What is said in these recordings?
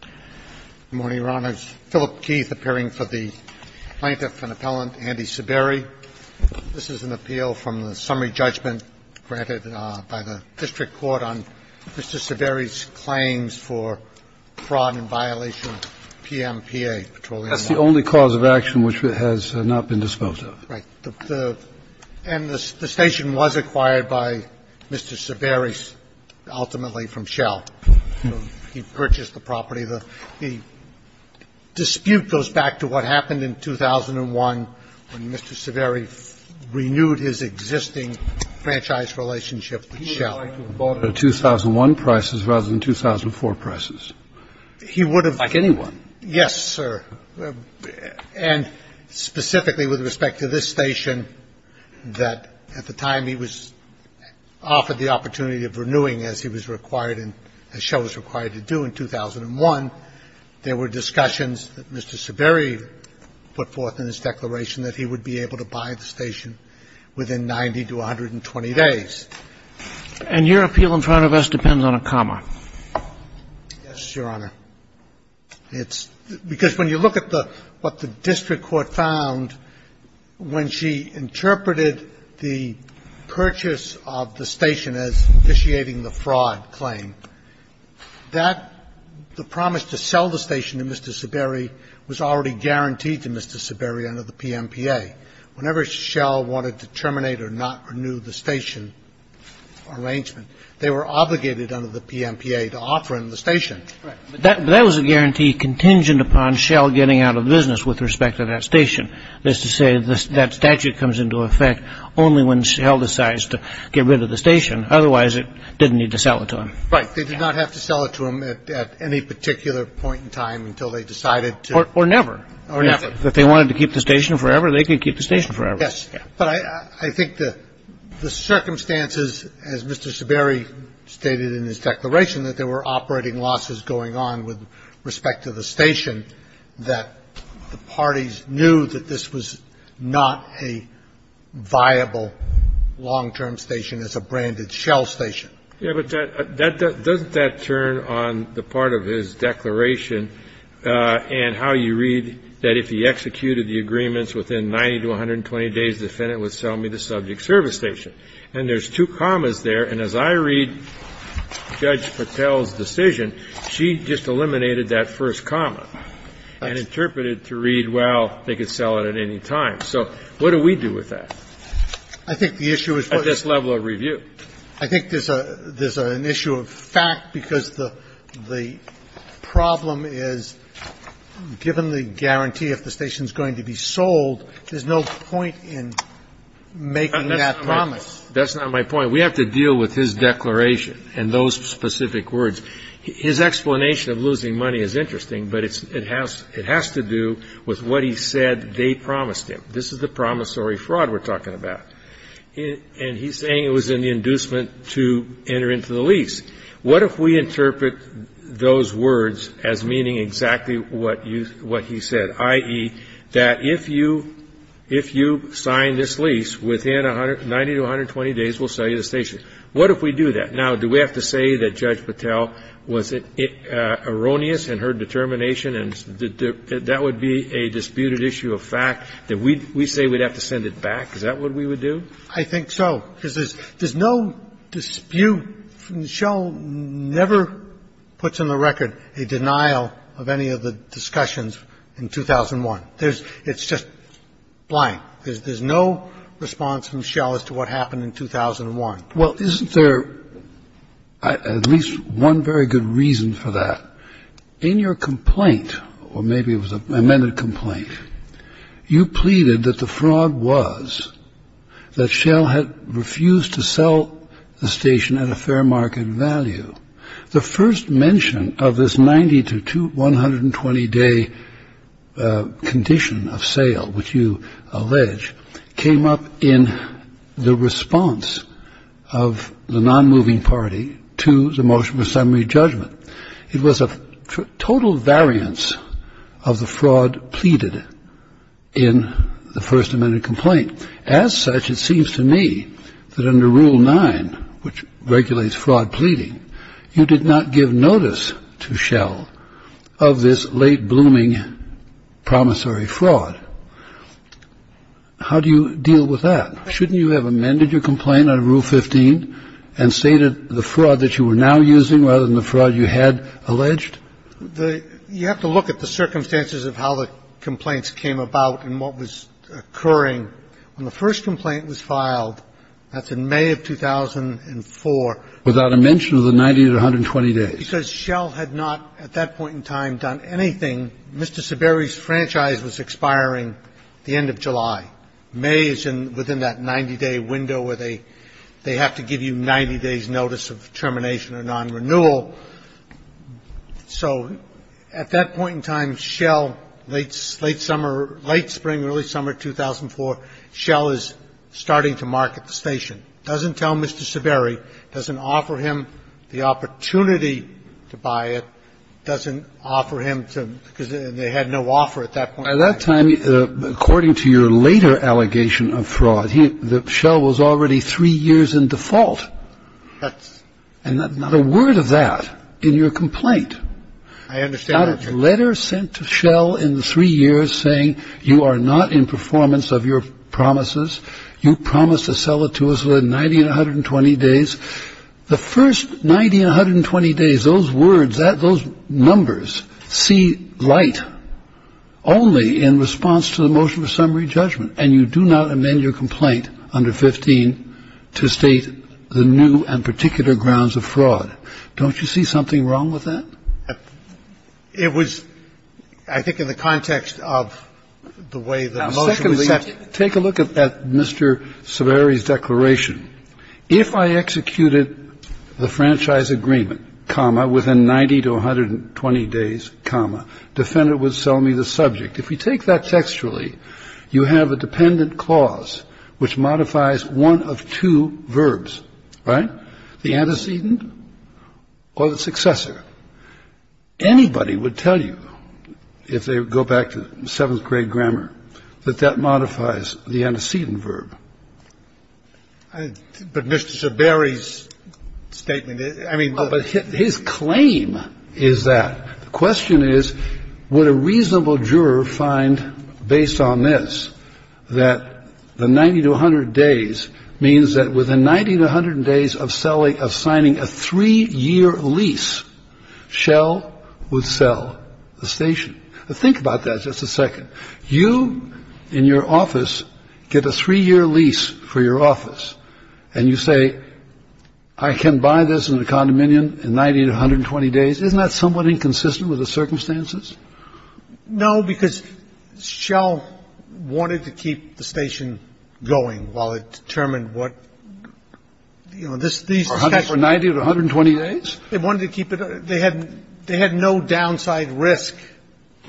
Good morning, Your Honors. Philip Keith appearing for the plaintiff and appellant, Andy Saberi. This is an appeal from the summary judgment granted by the district court on Mr. Saberi's claims for fraud and violation of PMPA, Petroleum Law. That's the only cause of action which has not been disposed of. Right. And the station was acquired by Mr. Saberi, ultimately from shell. He purchased the property. The dispute goes back to what happened in 2001 when Mr. Saberi renewed his existing franchise relationship with shell. He would have liked to have bought it at 2001 prices rather than 2004 prices. He would have. Like anyone. Yes, sir. And specifically with respect to this station, that at the time he was offered the opportunity of renewing as he was required and as shell was required to do in 2001, there were discussions that Mr. Saberi put forth in his declaration that he would be able to buy the station within 90 to 120 days. And your appeal in front of us depends on a comma. Yes, Your Honor. It's because when you look at the what the district court found when she interpreted the purchase of the station as initiating the fraud claim, that the promise to sell the station to Mr. Saberi was already guaranteed to Mr. Saberi under the PMPA. Whenever shell wanted to terminate or not renew the station arrangement, they were obligated under the PMPA to offer him the station. That was a guarantee contingent upon shell getting out of business with respect to that station. That's to say that statute comes into effect only when shell decides to get rid of the station. Otherwise, it didn't need to sell it to him. Right. They did not have to sell it to him at any particular point in time until they decided to. Or never. Or never. If they wanted to keep the station forever, they could keep the station forever. Yes. But I think the circumstances, as Mr. Saberi stated in his declaration, that there were operating losses going on with respect to the station, that the parties knew that this was not a viable long-term station as a branded shell station. Yes, but doesn't that turn on the part of his declaration and how you read that if he executed the agreements within 90 to 120 days, the defendant would sell me the subject service station? And there's two commas there, and as I read Judge Patel's decision, she just eliminated that first comma and interpreted to read, well, they could sell it at any time. So what do we do with that? I think the issue is what? At this level of review. I think there's an issue of fact, because the problem is given the guarantee if the station is going to be sold, there's no point in making that promise. That's not my point. We have to deal with his declaration and those specific words. His explanation of losing money is interesting, but it has to do with what he said they promised him. This is the promissory fraud we're talking about. And he's saying it was an inducement to enter into the lease. What if we interpret those words as meaning exactly what he said, i.e., that if you sign this lease, within 90 to 120 days we'll sell you the station? What if we do that? Now, do we have to say that Judge Patel was erroneous in her determination and that would be a disputed issue of fact, that we say we'd have to send it back? Is that what we would do? I think so, because there's no dispute. Michelle never puts on the record a denial of any of the discussions in 2001. It's just blind. There's no response from Michelle as to what happened in 2001. Well, isn't there at least one very good reason for that? In your complaint, or maybe it was an amended complaint, you pleaded that the fraud was that Michelle had refused to sell the station at a fair market value. The first mention of this 90 to 120-day condition of sale, which you allege, came up in the response of the nonmoving party to the motion for summary judgment. It was a total variance of the fraud pleaded in the First Amendment complaint. As such, it seems to me that under Rule 9, which regulates fraud pleading, you did not give notice to Michelle of this late-blooming promissory fraud. How do you deal with that? Shouldn't you have amended your complaint under Rule 15 and stated the fraud that you were now using rather than the fraud you had alleged? You have to look at the circumstances of how the complaints came about and what was occurring. When the first complaint was filed, that's in May of 2004. Without a mention of the 90 to 120 days. Because Michelle had not, at that point in time, done anything. Mr. Seberry's franchise was expiring the end of July. May is within that 90-day window where they have to give you 90 days' notice of termination or nonrenewal. So at that point in time, Michelle, late summer, late spring, early summer 2004, Michelle is starting to market the station. Doesn't tell Mr. Seberry. Doesn't offer him the opportunity to buy it. Doesn't offer him to, because they had no offer at that point. At that time, according to your later allegation of fraud, Michelle was already three years in default. And not a word of that in your complaint. Not a letter sent to Michelle in three years saying you are not in performance of your promises. You promised to sell it to us within 90 and 120 days. The first 90 and 120 days, those words, those numbers see light only in response to the motion of summary judgment. And you do not amend your complaint under 15 to state the new and particular grounds of fraud. Don't you see something wrong with that? It was, I think, in the context of the way the motion was set. Now, secondly, take a look at Mr. Seberry's declaration. If I executed the franchise agreement, comma, within 90 to 120 days, comma, defendant would sell me the subject. If you take that textually, you have a dependent clause which modifies one of two verbs. Right? The antecedent or the successor. Anybody would tell you, if they go back to seventh grade grammar, that that modifies the antecedent verb. But Mr. Seberry's statement, I mean. But his claim is that. The question is, would a reasonable juror find, based on this, that the 90 to 100 days means that within 90 to 100 days of selling, of signing a three year lease, Shell would sell the station. Think about that just a second. You in your office get a three year lease for your office and you say, I can buy this in a condominium in 90 to 120 days. Isn't that somewhat inconsistent with the circumstances? No, because Shell wanted to keep the station going while it determined what, you know, this, these. For 90 to 120 days? They wanted to keep it. They had no downside risk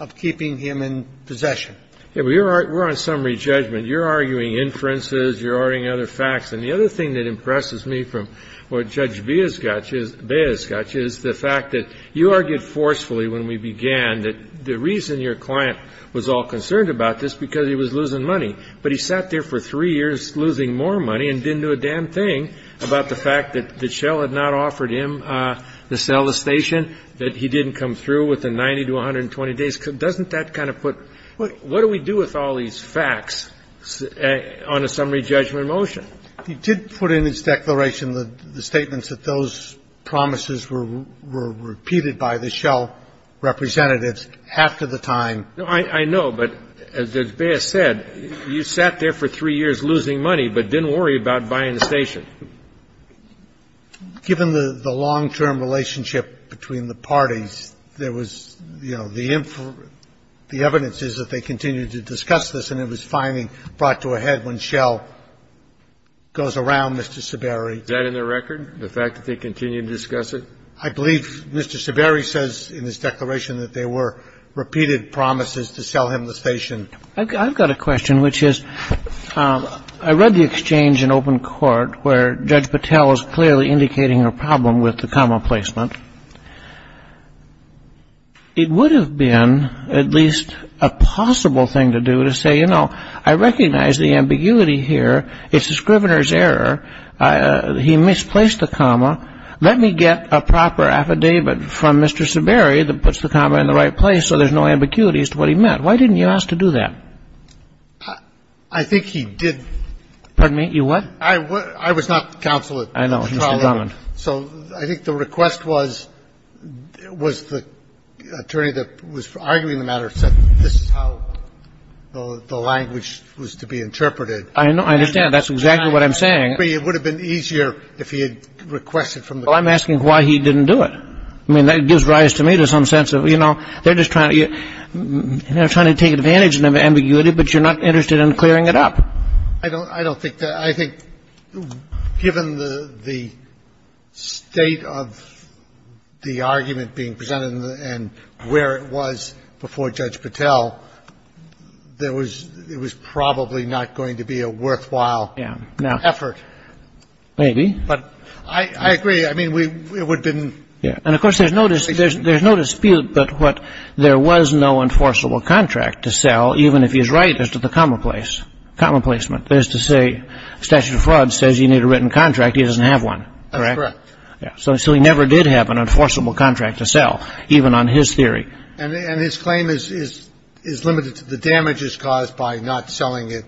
of keeping him in possession. We're on summary judgment. You're arguing inferences. You're arguing other facts. And the other thing that impresses me from what Judge Baez got you is the fact that you argued forcefully when we began that the reason your client was all concerned about this, because he was losing money. But he sat there for three years losing more money and didn't do a damn thing about the fact that Shell had not offered him to sell the station, that he didn't come through within 90 to 120 days. Doesn't that kind of put? What do we do with all these facts on a summary judgment motion? He did put in his declaration the statements that those promises were repeated by the Shell representatives after the time. I know. But as Baez said, you sat there for three years losing money but didn't worry about buying the station. Given the long-term relationship between the parties, there was, you know, the evidence is that they continued to discuss this and it was finally brought to a head when Shell goes around, Mr. Seberry. Is that in their record, the fact that they continued to discuss it? I believe Mr. Seberry says in his declaration that there were repeated promises to sell him the station. I've got a question, which is, I read the exchange in open court where Judge Patel is clearly indicating a problem with the comma placement. It would have been at least a possible thing to do to say, you know, I recognize the ambiguity here. It's the Scrivener's error. He misplaced the comma. Let me get a proper affidavit from Mr. Seberry that puts the comma in the right place so there's no ambiguity as to what he meant. Why didn't you ask to do that? I think he did. Pardon me? You what? I was not counsel at trial. I know. I was the attorney that was arguing the matter, said this is how the language was to be interpreted. I know. I understand. That's exactly what I'm saying. But it would have been easier if he had requested from the jury. Well, I'm asking why he didn't do it. I mean, that gives rise to me to some sense of, you know, they're just trying to take advantage of the ambiguity, but you're not interested in clearing it up. I don't think that – I think given the state of the argument being presented and where it was before Judge Patel, there was – it was probably not going to be a worthwhile effort. Maybe. But I agree. I mean, it would have been – And, of course, there's no dispute that what – there was no enforceable contract to sell, even if he's right as to the commonplace – commonplacement. That is to say, statute of fraud says you need a written contract. He doesn't have one, correct? That's correct. So he never did have an enforceable contract to sell, even on his theory. And his claim is limited to the damages caused by not selling it.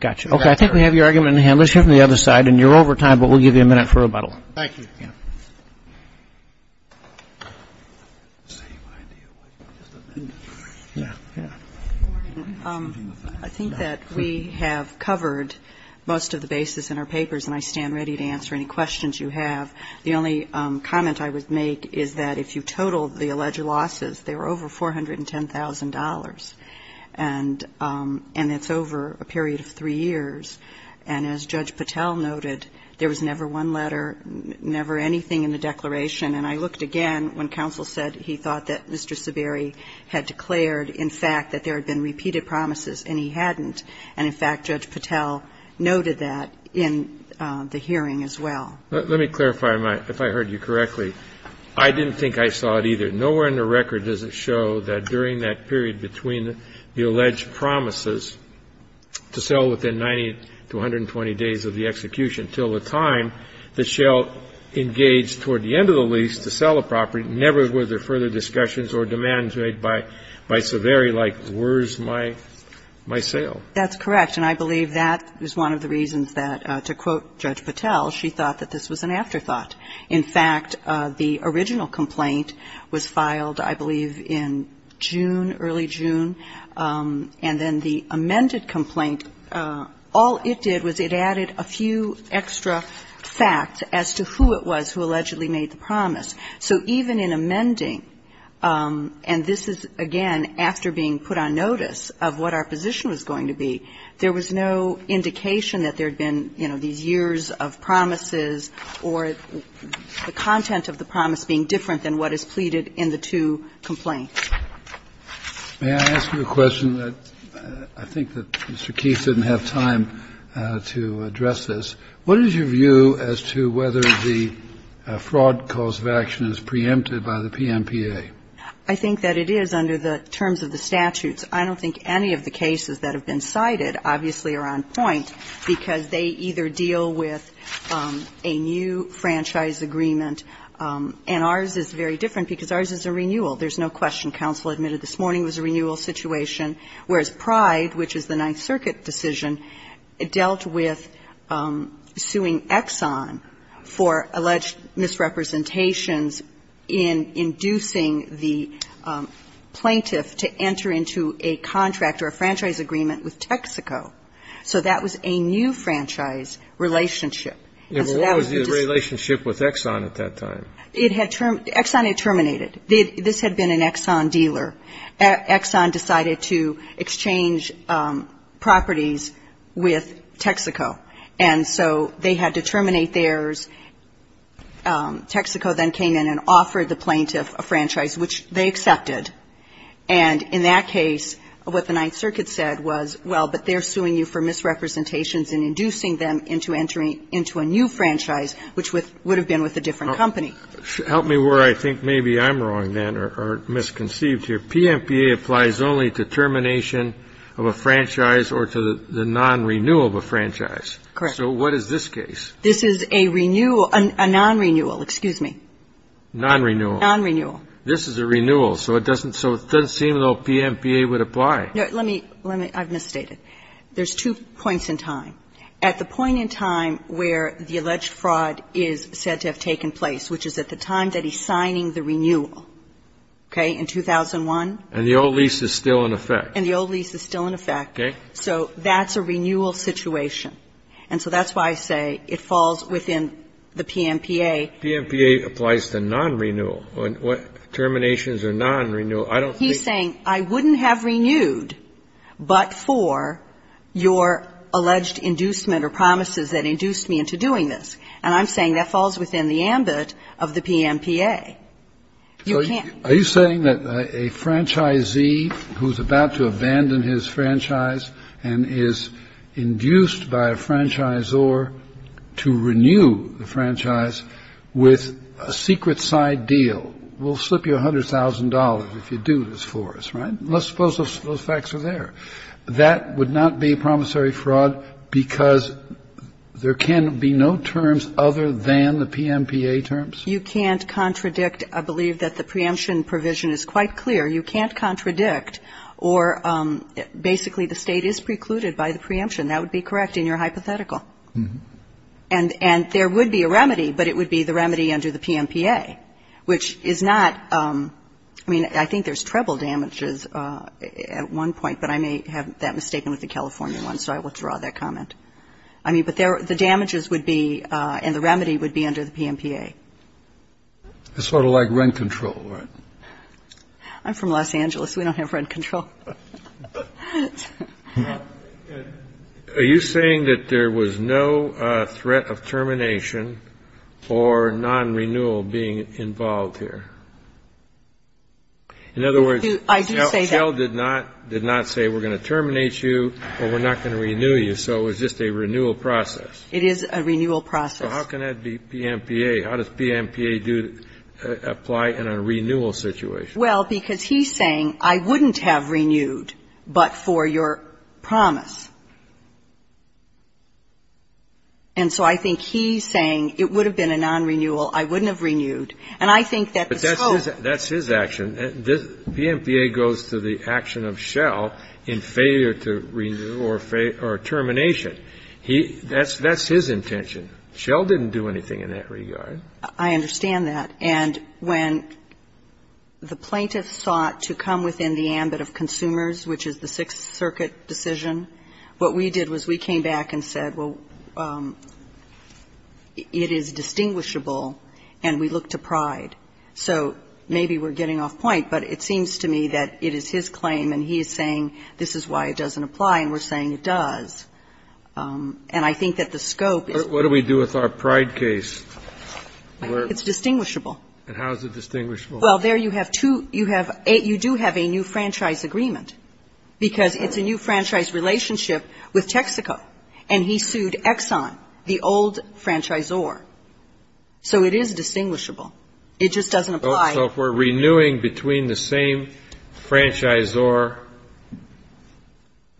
Gotcha. Okay. I think we have your argument in the hand. Let's hear from the other side. And you're over time, but we'll give you a minute for rebuttal. Thank you. I think that we have covered most of the basis in our papers, and I stand ready to answer any questions you have. The only comment I would make is that if you total the alleged losses, they were over $410,000. And it's over a period of three years. And as Judge Patel noted, there was never one letter, never a single letter that did not cover anything in the declaration. And I looked again when counsel said he thought that Mr. Saberi had declared, in fact, that there had been repeated promises, and he hadn't. And, in fact, Judge Patel noted that in the hearing as well. Let me clarify, if I heard you correctly. I didn't think I saw it either. Nowhere in the record does it show that during that period between the alleged promises to sell within 90 to 120 days of the execution until the time that she'll engage toward the end of the lease to sell the property, never were there further discussions or demands made by Saberi like, where's my sale? That's correct. And I believe that is one of the reasons that, to quote Judge Patel, she thought that this was an afterthought. In fact, the original complaint was filed, I believe, in June, early June. And then the amended complaint, all it did was it added a few extra facts as to who it was who allegedly made the promise. So even in amending, and this is, again, after being put on notice of what our position was going to be, there was no indication that there had been, you know, these years of promises or the content of the promise being different than what is pleaded in the two complaints. May I ask you a question? I think that Mr. Keith didn't have time to address this. What is your view as to whether the fraud cause of action is preempted by the PMPA? I think that it is under the terms of the statutes. I don't think any of the cases that have been cited, obviously, are on point because they either deal with a new franchise agreement, and ours is very different because ours is a renewal. There's no question. Counsel admitted this morning it was a renewal situation, whereas Pride, which is the Ninth Circuit decision, dealt with suing Exxon for alleged misrepresentations in inducing the plaintiff to enter into a contract or a franchise agreement with Texaco. So that was a new franchise relationship. What was the relationship with Exxon at that time? Exxon had terminated. This had been an Exxon dealer. Exxon decided to exchange properties with Texaco. And so they had to terminate theirs. Texaco then came in and offered the plaintiff a franchise, which they accepted. And in that case, what the Ninth Circuit said was, well, but they're suing you for misrepresentations in inducing them into entering into a new franchise, which would have been with a different company. Help me where I think maybe I'm wrong then or misconceived here. PMPA applies only to termination of a franchise or to the non-renewal of a franchise. Correct. So what is this case? This is a renewal or a non-renewal. Excuse me. Non-renewal. Non-renewal. This is a renewal. So it doesn't seem though PMPA would apply. Let me, I've misstated. There's two points in time. At the point in time where the alleged fraud is said to have taken place, which is at the time that he's signing the renewal, okay, in 2001. And the old lease is still in effect. And the old lease is still in effect. Okay. So that's a renewal situation. And so that's why I say it falls within the PMPA. PMPA applies to non-renewal. Terminations are non-renewal. I don't think. He's saying I wouldn't have renewed but for your alleged inducement or promises that induced me into doing this. And I'm saying that falls within the ambit of the PMPA. You can't. Are you saying that a franchisee who's about to abandon his franchise and is induced by a franchisor to renew the franchise with a secret side deal will slip you $100,000 if you do this for us, right? Let's suppose those facts are there. That would not be promissory fraud because there can be no terms other than the PMPA terms? You can't contradict. I believe that the preemption provision is quite clear. You can't contradict or basically the State is precluded by the preemption. That would be correct in your hypothetical. And there would be a remedy, but it would be the remedy under the PMPA, which is not ‑‑ I mean, I think there's treble damages at one point, but I may have that mistaken with the California one, so I will draw that comment. I mean, but the damages would be and the remedy would be under the PMPA. It's sort of like rent control, right? I'm from Los Angeles. We don't have rent control. Kennedy, are you saying that there was no threat of termination or nonrenewal being involved here? In other words, Cell did not say we're going to terminate you or we're not going to renew you, so it was just a renewal process. It is a renewal process. So how can that be PMPA? How does PMPA apply in a renewal situation? Well, because he's saying I wouldn't have renewed but for your promise. And so I think he's saying it would have been a nonrenewal, I wouldn't have renewed. And I think that the scope ‑‑ But that's his action. PMPA goes to the action of Cell in failure to renew or termination. He ‑‑ that's his intention. Cell didn't do anything in that regard. I understand that. And when the plaintiffs sought to come within the ambit of consumers, which is the Sixth Circuit decision, what we did was we came back and said, well, it is distinguishable and we look to Pride. So maybe we're getting off point, but it seems to me that it is his claim and he is saying this is why it doesn't apply and we're saying it does. And I think that the scope is ‑‑ What do we do with our Pride case? It's distinguishable. And how is it distinguishable? Well, there you have two ‑‑ you do have a new franchise agreement because it's a new franchise relationship with Texaco. And he sued Exxon, the old franchisor. So it is distinguishable. It just doesn't apply. So if we're renewing between the same franchisor ‑‑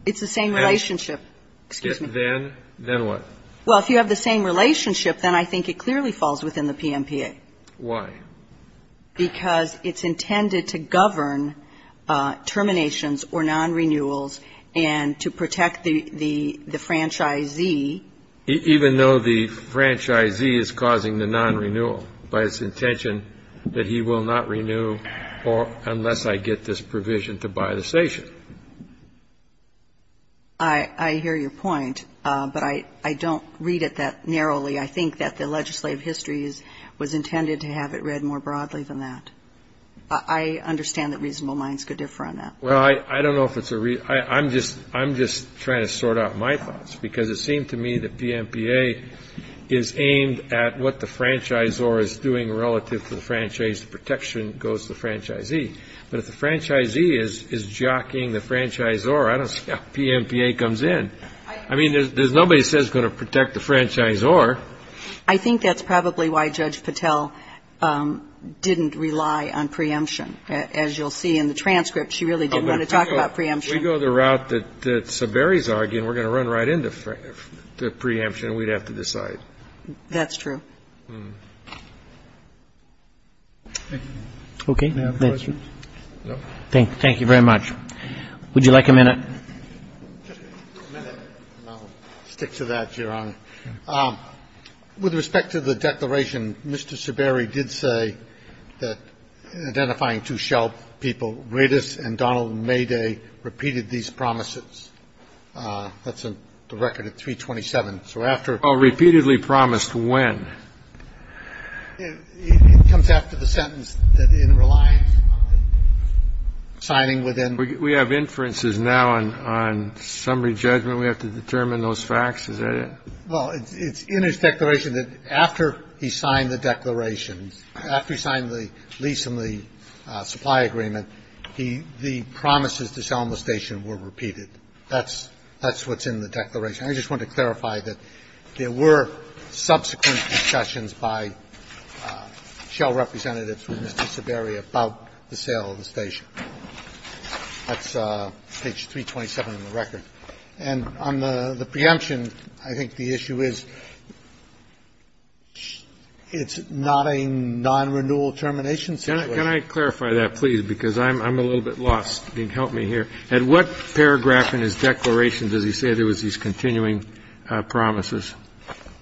It's the same relationship. Excuse me. Then what? Well, if you have the same relationship, then I think it clearly falls within the PMPA. Why? Because it's intended to govern terminations or nonrenewals and to protect the franchisee. Even though the franchisee is causing the nonrenewal by his intention that he will not renew unless I get this provision to buy the station. I hear your point. But I don't read it that narrowly. I think that the legislative history was intended to have it read more broadly than that. I understand that reasonable minds could differ on that. Well, I don't know if it's a ‑‑ I'm just trying to sort out my thoughts. Because it seemed to me that PMPA is aimed at what the franchisor is doing relative to the franchise. Protection goes to the franchisee. But if the franchisee is jockeying the franchisor, I don't see how PMPA comes in. I mean, there's nobody who says it's going to protect the franchisor. I think that's probably why Judge Patel didn't rely on preemption. As you'll see in the transcript, she really didn't want to talk about preemption. If we go the route that Saberi's arguing, we're going to run right into preemption and we'd have to decide. That's true. Okay. Thank you very much. Would you like a minute? I'll stick to that, Your Honor. With respect to the declaration, Mr. Saberi did say that identifying two shell people, Redis and Donald Mayday, repeated these promises. That's the record at 327. Well, repeatedly promised when? It comes after the sentence that in reliance on signing within. We have inferences now on summary judgment. We have to determine those facts. Is that it? Well, it's in his declaration that after he signed the declaration, after he signed the lease and the supply agreement, the promises to sell him the station were repeated. That's what's in the declaration. I just want to clarify that there were subsequent discussions by shell representatives with Mr. Saberi about the sale of the station. That's page 327 of the record. And on the preemption, I think the issue is it's not a non-renewal termination situation. Can I clarify that, please, because I'm a little bit lost. Help me here. At what paragraph in his declaration does he say there was these continuing promises?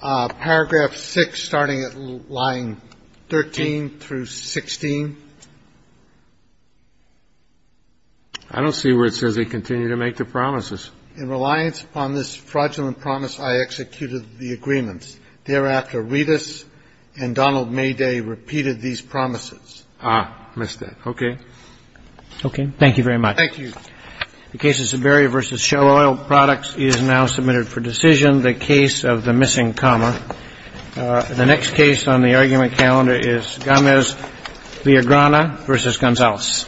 Paragraph 6, starting at line 13 through 16. I don't see where it says they continue to make the promises. In reliance upon this fraudulent promise, I executed the agreements. Thereafter, Redis and Donald Mayday repeated these promises. Ah, missed that. Okay. Okay. Thank you very much. Thank you. The case of Saberi v. Shell Oil Products is now submitted for decision. The case of the missing comma. The next case on the argument calendar is Gomez-Villagrana v. Gonzalez.